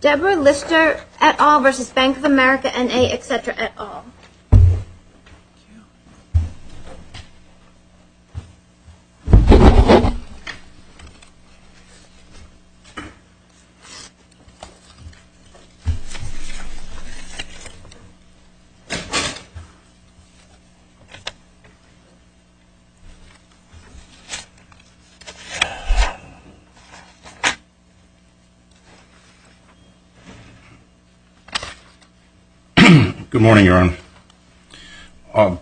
Deborah Lister et al. v. Bank of America, N.A., etc. et al. Good morning, Your Honor.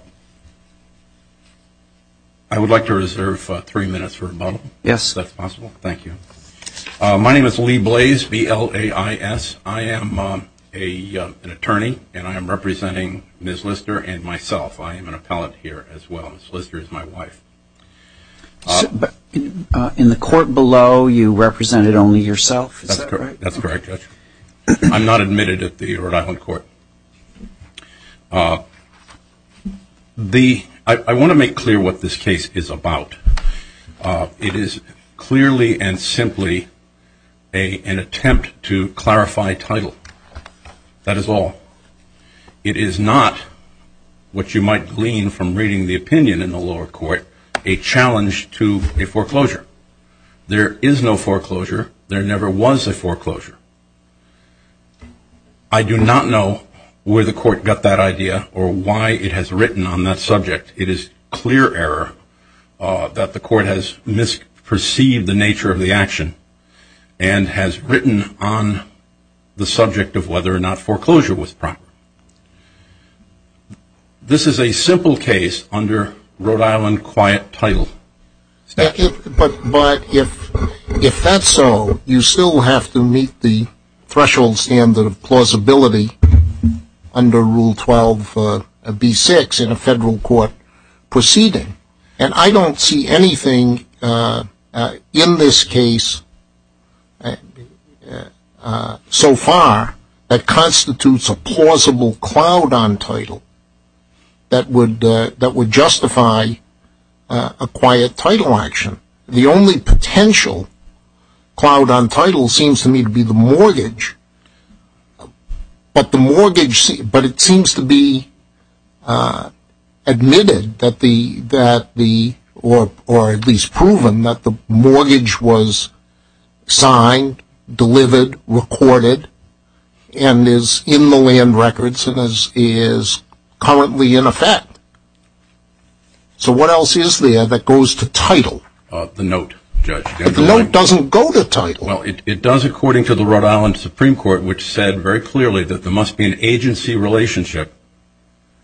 I would like to reserve three minutes for rebuttal, if that's possible. Thank you. My name is Lee Blaze, B-L-A-I-S. I am an attorney, and I am representing Ms. Lister and myself. I am an appellant here as well. Ms. Lister is my wife. In the court below, you represented only yourself, is that right? That's correct, Judge. I'm not admitted at the Rhode Island Court. I want to make clear what this case is about. It is clearly and simply an attempt to clarify title. That is all. It is not, what you might glean from reading the opinion in the lower court, a challenge to a foreclosure. There is no foreclosure. There never was a foreclosure. I do not know where the court got that idea or why it has written on that subject. It is clear error that the court has misperceived the nature of the action and has written on the subject of whether or not foreclosure was proper. This is a simple case under Rhode Island quiet title. But if that's so, you still have to meet the threshold standard of plausibility under Rule 12, B-6 in a federal court proceeding. And I don't see anything in this case so far that constitutes a plausible cloud on title that would justify a quiet title action. The only potential cloud on title seems to me to be the mortgage, but it seems to be admitted or at least proven that the mortgage was signed, delivered, recorded, and is in the land records and is currently in effect. So what else is there that goes to title? The note, Judge. But the note doesn't go to title. Well, it does according to the Rhode Island Supreme Court, which said very clearly that there must be an agency relationship.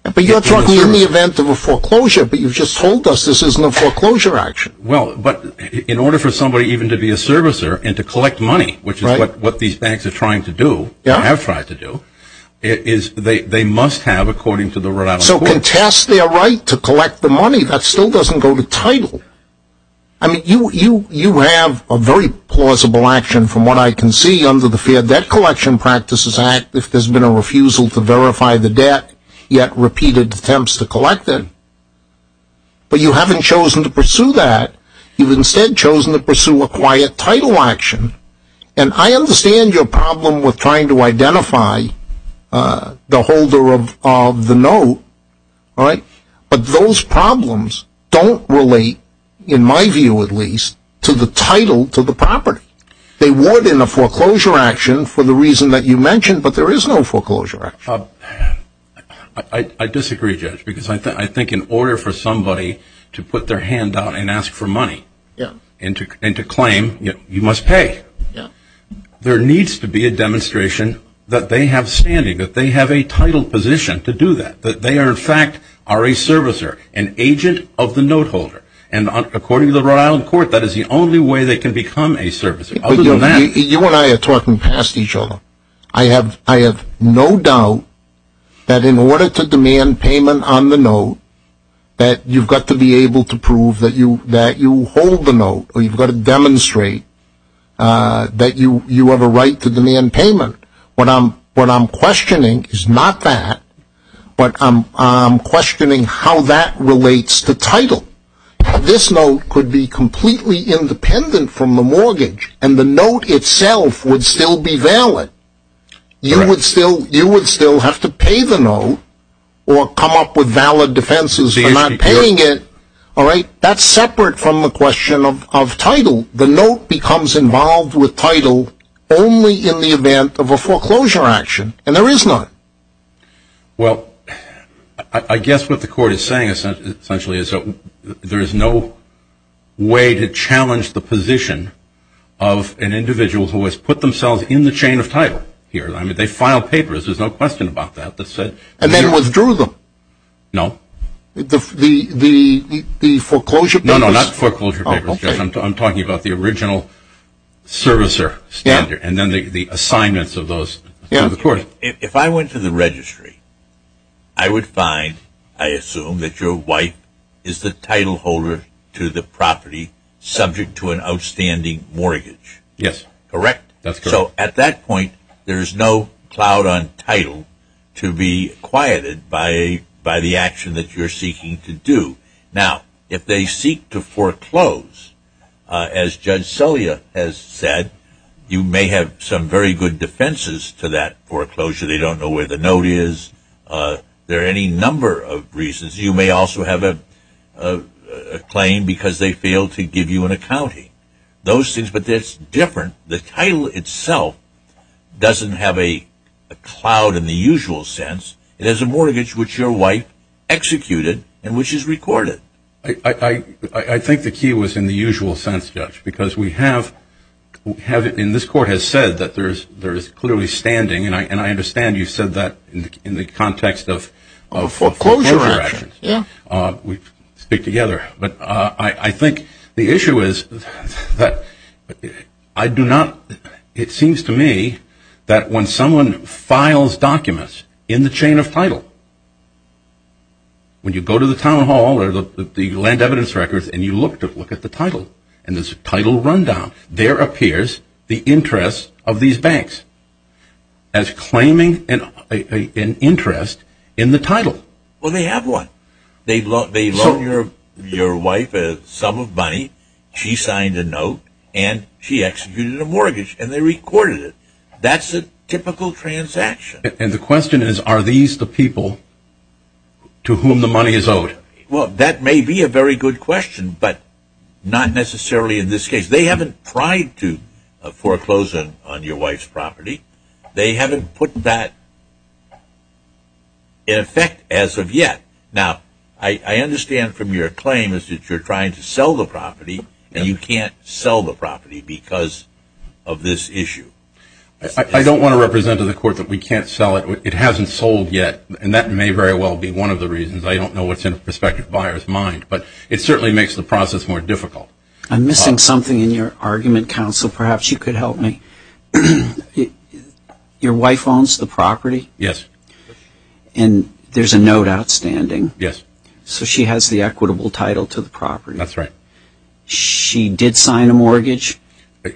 But you're talking in the event of a foreclosure, but you've just told us this isn't a foreclosure action. Well, but in order for somebody even to be a servicer and to collect money, which is what these banks are trying to do, have tried to do, they must have, according to the Rhode Island Supreme Court. So contest their right to collect the money, that still doesn't go to title. I mean, you have a very plausible action from what I can see under the Fair Debt Collection Practices Act, if there's been a refusal to verify the debt, yet repeated attempts to collect it. But you haven't chosen to pursue that. You've instead chosen to pursue a quiet title action. And I understand your problem with trying to identify the holder of the note. But those problems don't relate, in my view at least, to the title to the property. They would in a foreclosure action for the reason that you mentioned, but there is no foreclosure action. I disagree, Judge, because I think in order for somebody to put their hand out and ask for money and to claim you must pay, there needs to be a demonstration that they have standing, that they have a title position to do that, that they are in fact are a servicer, an agent of the note holder. And according to the Rhode Island court, that is the only way they can become a servicer. You and I are talking past each other. I have no doubt that in order to demand payment on the note, that you've got to be able to prove that you hold the note, or you've got to demonstrate that you have a right to demand payment. What I'm questioning is not that, but I'm questioning how that relates to title. This note could be completely independent from the mortgage, and the note itself would still be valid. You would still have to pay the note or come up with valid defenses for not paying it. That's separate from the question of title. The note becomes involved with title only in the event of a foreclosure action, and there is none. Well, I guess what the court is saying essentially is that there is no way to challenge the position of an individual who has put themselves in the chain of title here. I mean, they filed papers. There's no question about that. And then withdrew them. No. The foreclosure papers? No, no, not foreclosure papers. I'm talking about the original servicer standard, and then the assignments of those to the court. If I went to the registry, I would find, I assume, that your wife is the title holder to the property subject to an outstanding mortgage. Yes. Correct? That's correct. So at that point, there's no clout on title to be quieted by the action that you're seeking to do. Now, if they seek to foreclose, as Judge Celia has said, you may have some very good defenses to that foreclosure. They don't know where the note is. There are any number of reasons. You may also have a claim because they failed to give you an accounting. Those things, but that's different. The title itself doesn't have a clout in the usual sense. It has a mortgage which your wife executed and which is recorded. I think the key was in the usual sense, Judge, because we have, and this court has said that there is clearly standing, and I understand you said that in the context of foreclosure actions. We speak together. But I think the issue is that I do not, it seems to me that when someone files documents in the chain of title, when you go to the town hall or the land evidence records and you look at the title and there's a title rundown, there appears the interest of these banks as claiming an interest in the title. Well, they have one. They loan your wife a sum of money. She signed a note and she executed a mortgage and they recorded it. That's a typical transaction. And the question is are these the people to whom the money is owed? Well, that may be a very good question, but not necessarily in this case. They haven't tried to foreclose on your wife's property. They haven't put that in effect as of yet. Now, I understand from your claim is that you're trying to sell the property and you can't sell the property because of this issue. I don't want to represent to the court that we can't sell it. It hasn't sold yet, and that may very well be one of the reasons. I don't know what's in the prospective buyer's mind, but it certainly makes the process more difficult. I'm missing something in your argument, counsel. Perhaps you could help me. Your wife owns the property? Yes. And there's a note outstanding? Yes. So she has the equitable title to the property? That's right. She did sign a mortgage?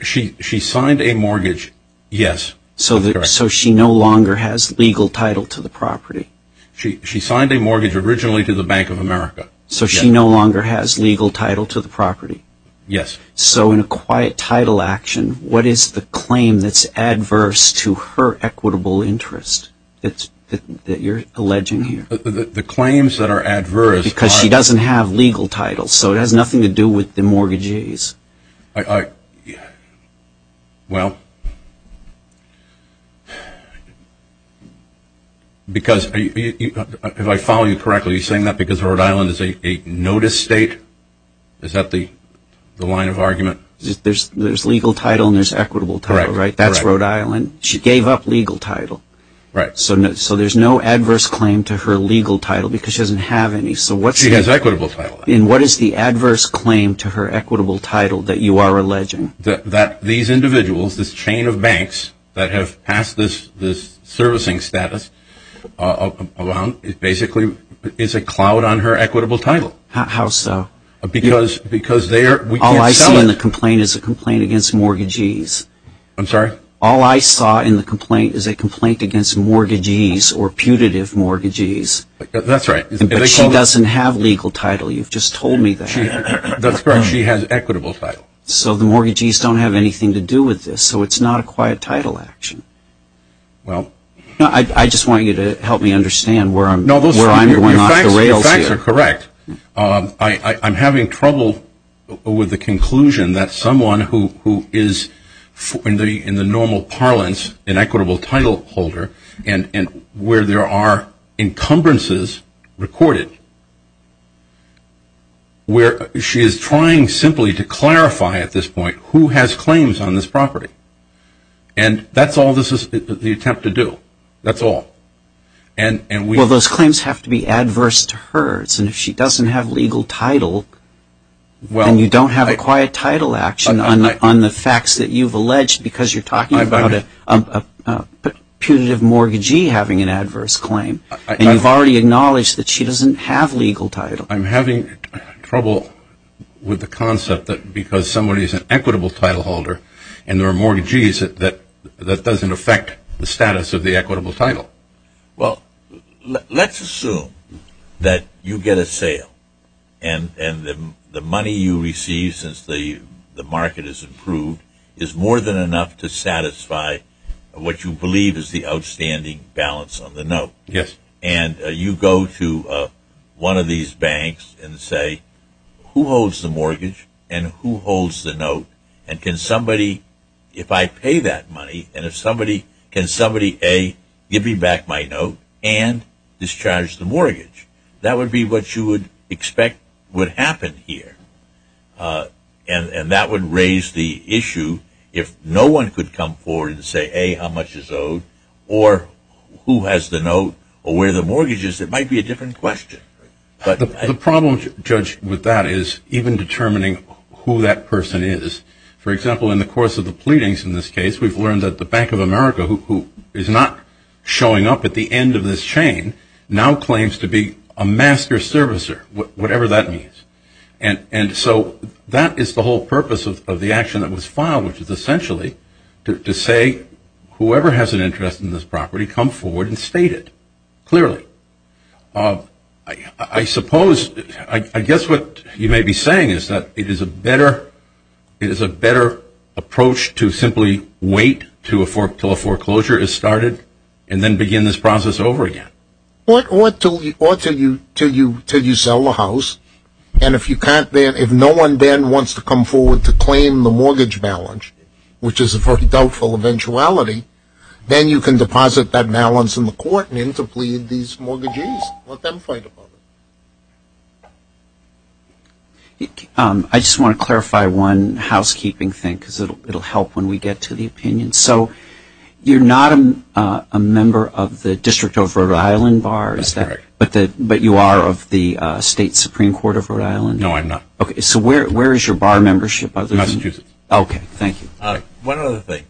She signed a mortgage, yes. So she no longer has legal title to the property? She signed a mortgage originally to the Bank of America. So she no longer has legal title to the property? Yes. So in a quiet title action, what is the claim that's adverse to her equitable interest that you're alleging here? The claims that are adverse are? Because she doesn't have legal title, so it has nothing to do with the mortgagees. Well, because if I follow you correctly, you're saying that because Rhode Island is a notice state? Is that the line of argument? There's legal title and there's equitable title, right? That's Rhode Island. She gave up legal title. So there's no adverse claim to her legal title because she doesn't have any. She has equitable title. And what is the adverse claim to her equitable title that you are alleging? That these individuals, this chain of banks that have passed this servicing status around, it basically is a cloud on her equitable title. How so? Because we can't sell it. All I saw in the complaint is a complaint against mortgagees. I'm sorry? All I saw in the complaint is a complaint against mortgagees or putative mortgagees. That's right. But she doesn't have legal title. You've just told me that. That's correct. She has equitable title. So the mortgagees don't have anything to do with this. So it's not a quiet title action. I just want you to help me understand where I'm going off the rails here. The facts are correct. I'm having trouble with the conclusion that someone who is, in the normal parlance, an equitable title holder and where there are encumbrances recorded, where she is trying simply to clarify at this point who has claims on this property. And that's all this is the attempt to do. That's all. Well, those claims have to be adverse to hers. And if she doesn't have legal title, then you don't have a quiet title action on the facts that you've alleged because you're talking about a putative mortgagee having an adverse claim. And you've already acknowledged that she doesn't have legal title. I'm having trouble with the concept that because somebody is an equitable title holder and there are mortgagees that that doesn't affect the status of the equitable title. Well, let's assume that you get a sale and the money you receive since the market has improved is more than enough to satisfy what you believe is the outstanding balance on the note. Yes. And you go to one of these banks and say, who holds the mortgage and who holds the note? And can somebody, if I pay that money, and can somebody, A, give me back my note and discharge the mortgage? That would be what you would expect would happen here. And that would raise the issue if no one could come forward and say, A, how much is owed or who has the note or where the mortgage is. It might be a different question. The problem, Judge, with that is even determining who that person is. For example, in the course of the pleadings in this case, we've learned that the Bank of America, who is not showing up at the end of this chain, now claims to be a master servicer, whatever that means. And so that is the whole purpose of the action that was filed, which is essentially to say whoever has an interest in this property, come forward and state it clearly. I guess what you may be saying is that it is a better approach to simply wait until a foreclosure is started and then begin this process over again. Well, it ought to until you sell the house, and if no one then wants to come forward to claim the mortgage balance, which is a very doubtful eventuality, then you can deposit that balance in the court and interplead these mortgages. Let them fight about it. I just want to clarify one housekeeping thing because it will help when we get to the opinion. So you're not a member of the District of Rhode Island Bar, is that right? That's correct. But you are of the State Supreme Court of Rhode Island? No, I'm not. Okay, so where is your bar membership? Massachusetts. Okay, thank you. One other thing.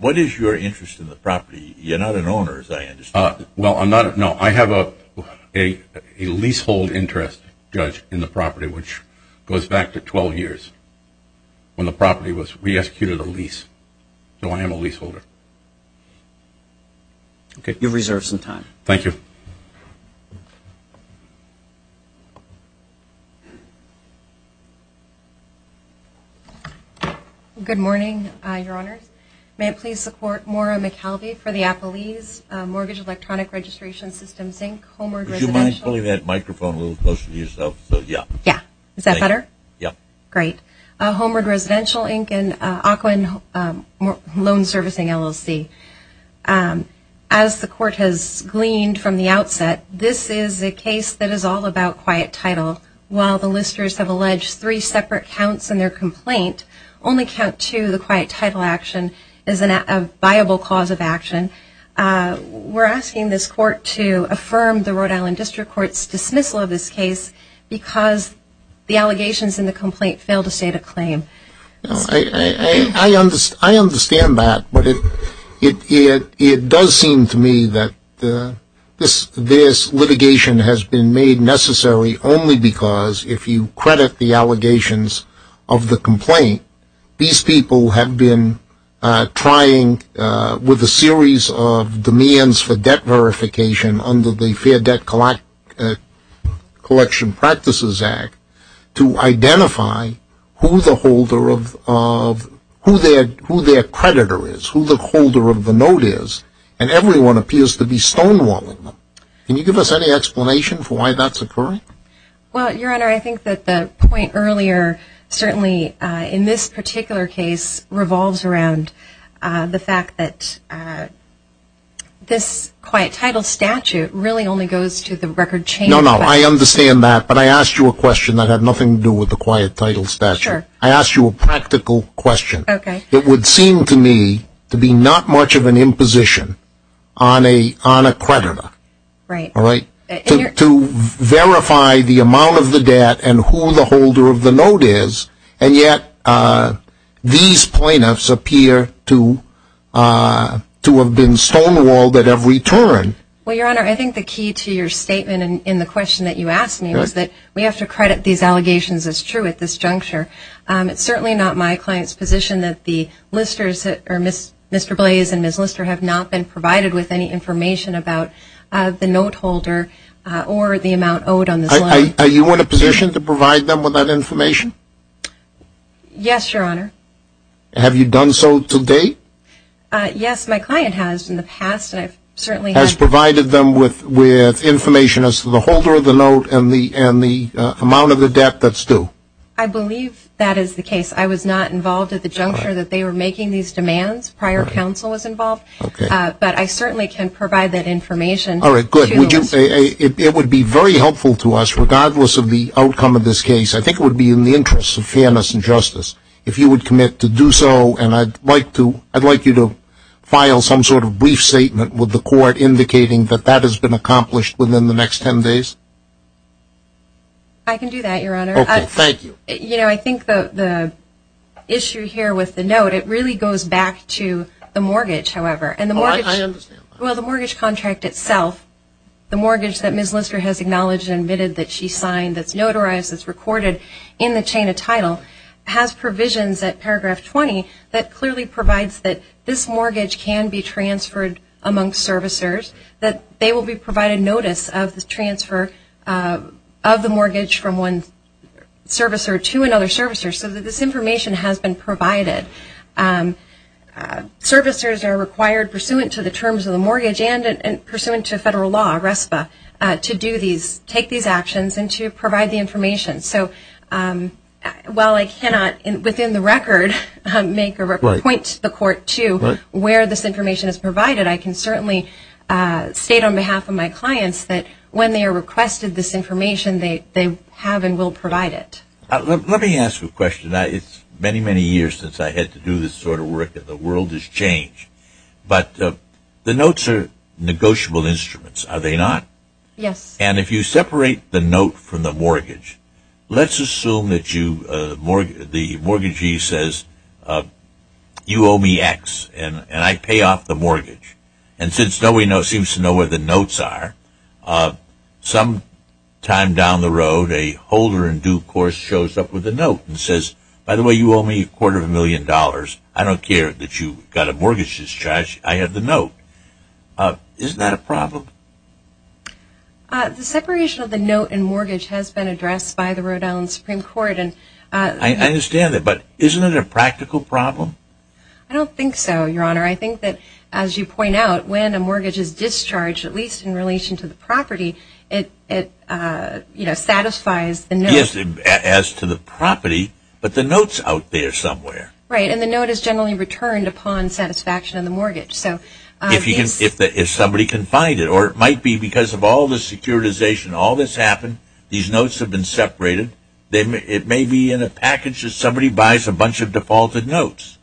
What is your interest in the property? You're not an owner, is that right? No, I have a leasehold interest, Judge, in the property, which goes back to 12 years when the property was re-executed a lease. So I am a leaseholder. You've reserved some time. Thank you. Thank you. Good morning, Your Honors. May it please the Court. Maura McAlvey for the Apple Ease Mortgage Electronic Registration Systems, Inc., Homeward Residential. Would you mind pulling that microphone a little closer to yourself? Yeah. Is that better? Yeah. Great. Homeward Residential, Inc., and Aquin Loan Servicing, LLC. As the Court has gleaned from the outset, this is a case that is all about quiet title. While the listeners have alleged three separate counts in their complaint, only count two, the quiet title action, is a viable cause of action. We're asking this Court to affirm the Rhode Island District Court's dismissal of this case because the allegations in the complaint fail to state a claim. I understand that, but it does seem to me that this litigation has been made necessary only because, if you credit the allegations of the complaint, these people have been trying with a series of demands for debt verification under the Fair Debt Collection Practices Act to identify who their creditor is, who the holder of the note is, and everyone appears to be stonewalling them. Can you give us any explanation for why that's occurring? Well, Your Honor, I think that the point earlier, certainly in this particular case, revolves around the fact that this quiet title statute really only goes to the record chain. No, no, I understand that, but I asked you a question that had nothing to do with the quiet title statute. Sure. I asked you a practical question. Okay. It would seem to me to be not much of an imposition on a creditor. Right. To verify the amount of the debt and who the holder of the note is, and yet these plaintiffs appear to have been stonewalled at every turn. Well, Your Honor, I think the key to your statement in the question that you asked me was that we have to credit these allegations as true at this juncture. It's certainly not my client's position that Mr. Blaze and Ms. Lister have not been provided with any information about the note holder or the amount owed on this line. Are you in a position to provide them with that information? Yes, Your Honor. Have you done so to date? Yes, my client has in the past, and I certainly have. Has provided them with information as to the holder of the note and the amount of the debt that's due. I believe that is the case. I was not involved at the juncture that they were making these demands. Prior counsel was involved. Okay. But I certainly can provide that information. All right, good. Would you say it would be very helpful to us, regardless of the outcome of this case, I think it would be in the interest of fairness and justice, if you would commit to do so and I'd like you to file some sort of brief statement with the court indicating that that has been accomplished within the next 10 days? I can do that, Your Honor. Okay, thank you. You know, I think the issue here with the note, it really goes back to the mortgage, however. Oh, I understand. Well, the mortgage contract itself, the mortgage that Ms. Lister has acknowledged and admitted that she signed, that's notarized, that's recorded in the chain of title, has provisions at paragraph 20 that clearly provides that this mortgage can be transferred among servicers, that they will be provided notice of the transfer of the mortgage from one servicer to another servicer, so that this information has been provided. Servicers are required, pursuant to the terms of the mortgage and pursuant to federal law, RESPA, to do these, take these actions and to provide the information. So while I cannot, within the record, make or point to the court to where this information is provided, I can certainly state on behalf of my clients that when they are requested this information, they have and will provide it. Let me ask you a question. It's many, many years since I had to do this sort of work, and the world has changed. But the notes are negotiable instruments, are they not? Yes. And if you separate the note from the mortgage, let's assume that the mortgagee says, You owe me X, and I pay off the mortgage. And since nobody seems to know where the notes are, sometime down the road a holder in due course shows up with a note and says, By the way, you owe me a quarter of a million dollars. I don't care that you got a mortgage discharge. I have the note. Isn't that a problem? The separation of the note and mortgage has been addressed by the Rhode Island Supreme Court. I understand that, but isn't it a practical problem? I don't think so, Your Honor. I think that, as you point out, when a mortgage is discharged, at least in relation to the property, it satisfies the note. Yes, as to the property, but the note's out there somewhere. Right, and the note is generally returned upon satisfaction of the mortgage. If somebody can find it, or it might be because of all the securitization, all this happened, these notes have been separated, it may be in a package that somebody buys a bunch of defaulted notes.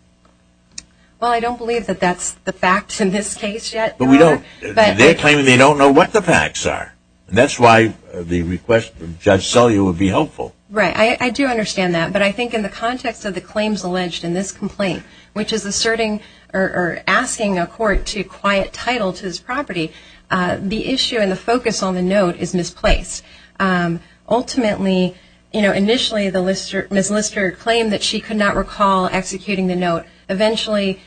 Well, I don't believe that that's the facts in this case yet. They're claiming they don't know what the facts are. That's why the request from Judge Sellier would be helpful. Right, I do understand that. But I think in the context of the claims alleged in this complaint, which is asking a court to quiet title to this property, the issue and the focus on the note is misplaced. Ultimately, initially Ms. Lister claimed that she could not recall executing the note. Eventually,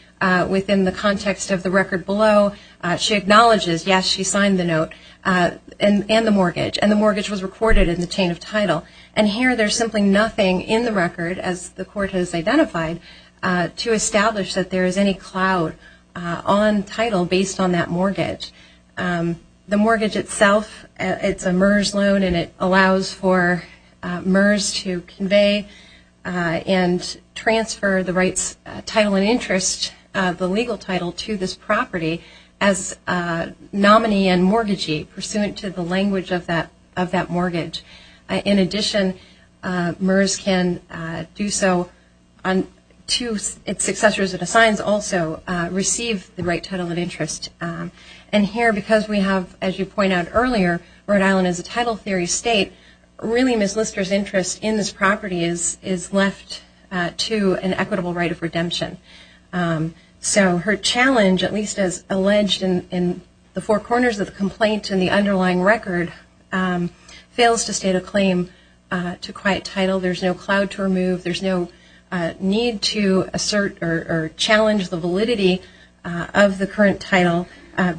within the context of the record below, she acknowledges, yes, she signed the note and the mortgage, and the mortgage was recorded in the chain of title. And here there's simply nothing in the record, as the court has identified, to establish that there is any clout on title based on that mortgage. The mortgage itself, it's a MERS loan, and it allows for MERS to convey and transfer the rights, title and interest, the legal title to this property as nominee and mortgagee, pursuant to the language of that mortgage. In addition, MERS can do so to its successors it assigns also, receive the right title of interest. And here, because we have, as you pointed out earlier, Rhode Island is a title theory state, really Ms. Lister's interest in this property is left to an equitable right of redemption. So her challenge, at least as alleged in the four corners of the complaint and the underlying record, fails to state a claim to quiet title. There's no clout to remove. There's no need to assert or challenge the validity of the current title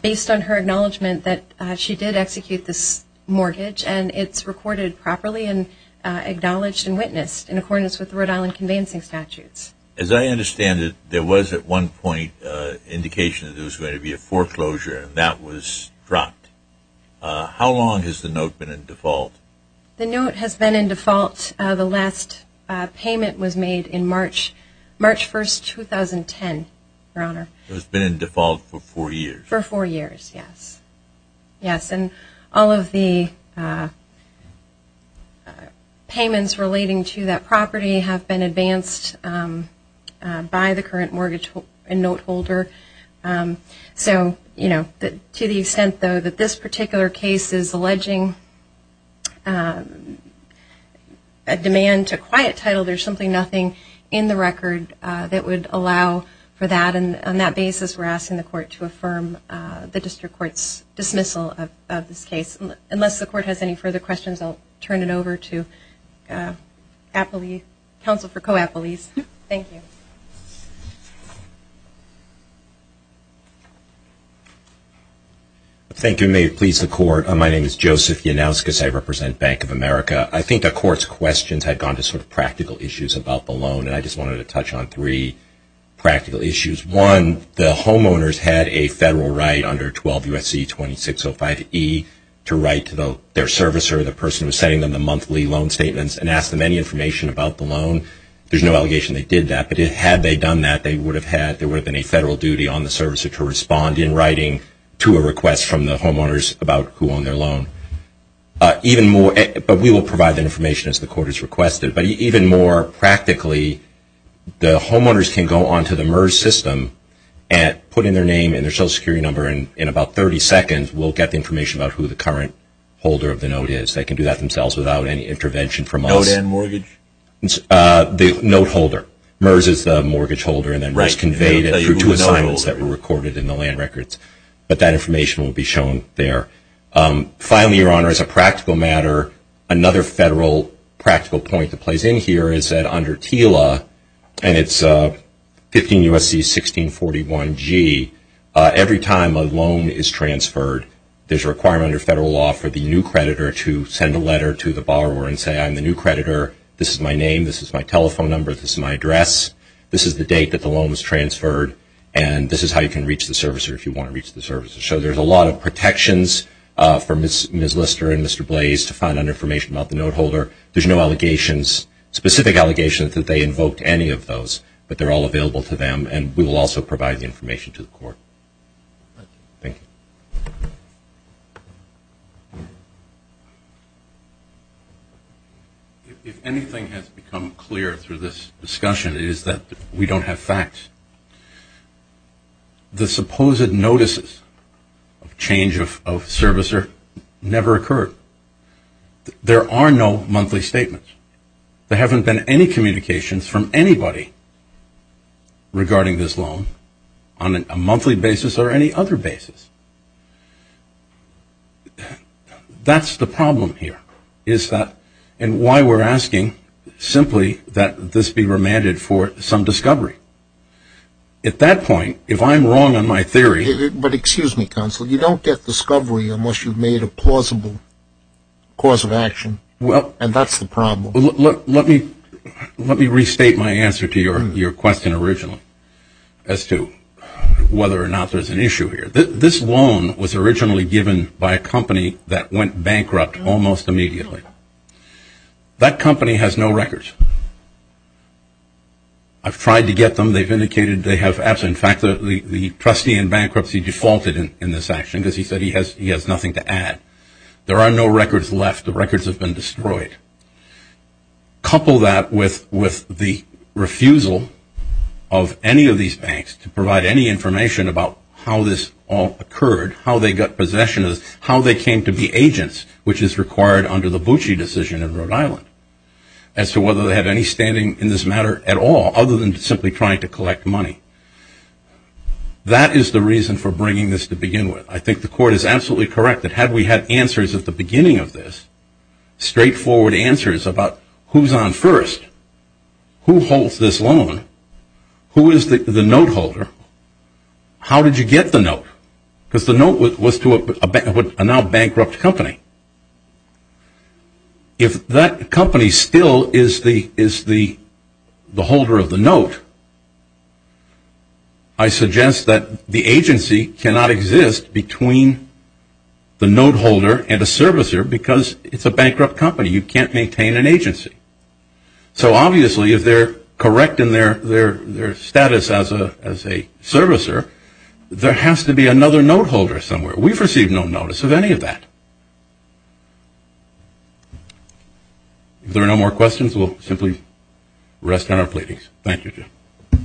based on her acknowledgement that she did execute this mortgage and it's recorded properly and acknowledged and witnessed in accordance with the Rhode Island conveyancing statutes. As I understand it, there was at one point an indication that there was going to be a foreclosure and that was dropped. How long has the note been in default? The note has been in default. The last payment was made in March 1, 2010, Your Honor. It has been in default for four years. For four years, yes. Yes, and all of the payments relating to that property have been advanced by the current mortgage and note holder. So, you know, to the extent, though, that this particular case is alleging a demand to quiet title, there's simply nothing in the record that would allow for that. And on that basis, we're asking the court to affirm the district court's dismissal of this case. Unless the court has any further questions, I'll turn it over to counsel for co-appellees. Thank you. Thank you, and may it please the court. My name is Joseph Yanouskas. I represent Bank of America. I think the court's questions have gone to sort of practical issues about the loan, and I just wanted to touch on three practical issues. One, the homeowners had a federal right under 12 U.S.C. 2605e to write to their servicer, the person who was sending them the monthly loan statements, and ask them any information about the loan. There's no allegation they did that, but had they done that, there would have been a federal duty on the servicer to respond in writing to a request from the homeowners about who owned their loan. But we will provide that information as the court has requested. But even more practically, the homeowners can go onto the MERS system and put in their name and their Social Security number, and in about 30 seconds we'll get the information about who the current holder of the note is. They can do that themselves without any intervention from us. Note and mortgage? The note holder. MERS is the mortgage holder, and then it's conveyed through two assignments that were recorded in the land records. But that information will be shown there. Finally, Your Honor, as a practical matter, another federal practical point that plays in here is that under TILA, and it's 15 U.S.C. 1641g, every time a loan is transferred, there's a requirement under federal law for the new creditor to send a letter to the borrower and say, I'm the new creditor. This is my name. This is my telephone number. This is my address. This is the date that the loan was transferred, and this is how you can reach the servicer if you want to reach the servicer. So there's a lot of protections for Ms. Lister and Mr. Blaze to find out information about the note holder. There's no allegations, specific allegations that they invoked any of those, but they're all available to them, and we will also provide the information to the court. Thank you. If anything has become clear through this discussion, it is that we don't have facts. The supposed notices of change of servicer never occurred. There are no monthly statements. There haven't been any communications from anybody regarding this loan on a monthly basis or any other basis. That's the problem here, is that, and why we're asking simply that this be remanded for some discovery. At that point, if I'm wrong on my theory. But excuse me, counsel, you don't get discovery unless you've made a plausible cause of action, and that's the problem. Let me restate my answer to your question originally as to whether or not there's an issue here. This loan was originally given by a company that went bankrupt almost immediately. That company has no records. I've tried to get them. They've indicated they have, in fact, the trustee in bankruptcy defaulted in this action because he said he has nothing to add. There are no records left. The records have been destroyed. Couple that with the refusal of any of these banks to provide any information about how this all occurred, how they got possession of this, how they came to be agents, which is required under the Bucci decision in Rhode Island, as to whether they had any standing in this matter at all, other than simply trying to collect money. That is the reason for bringing this to begin with. I think the court is absolutely correct that had we had answers at the beginning of this, straightforward answers about who's on first, who holds this loan, who is the note holder, how did you get the note? Because the note was to a now bankrupt company. If that company still is the holder of the note, I suggest that the agency cannot exist between the note holder and a servicer because it's a bankrupt company. You can't maintain an agency. So, obviously, if they're correct in their status as a servicer, there has to be another note holder somewhere. We've received no notice of any of that. If there are no more questions, we'll simply rest on our platings. Thank you.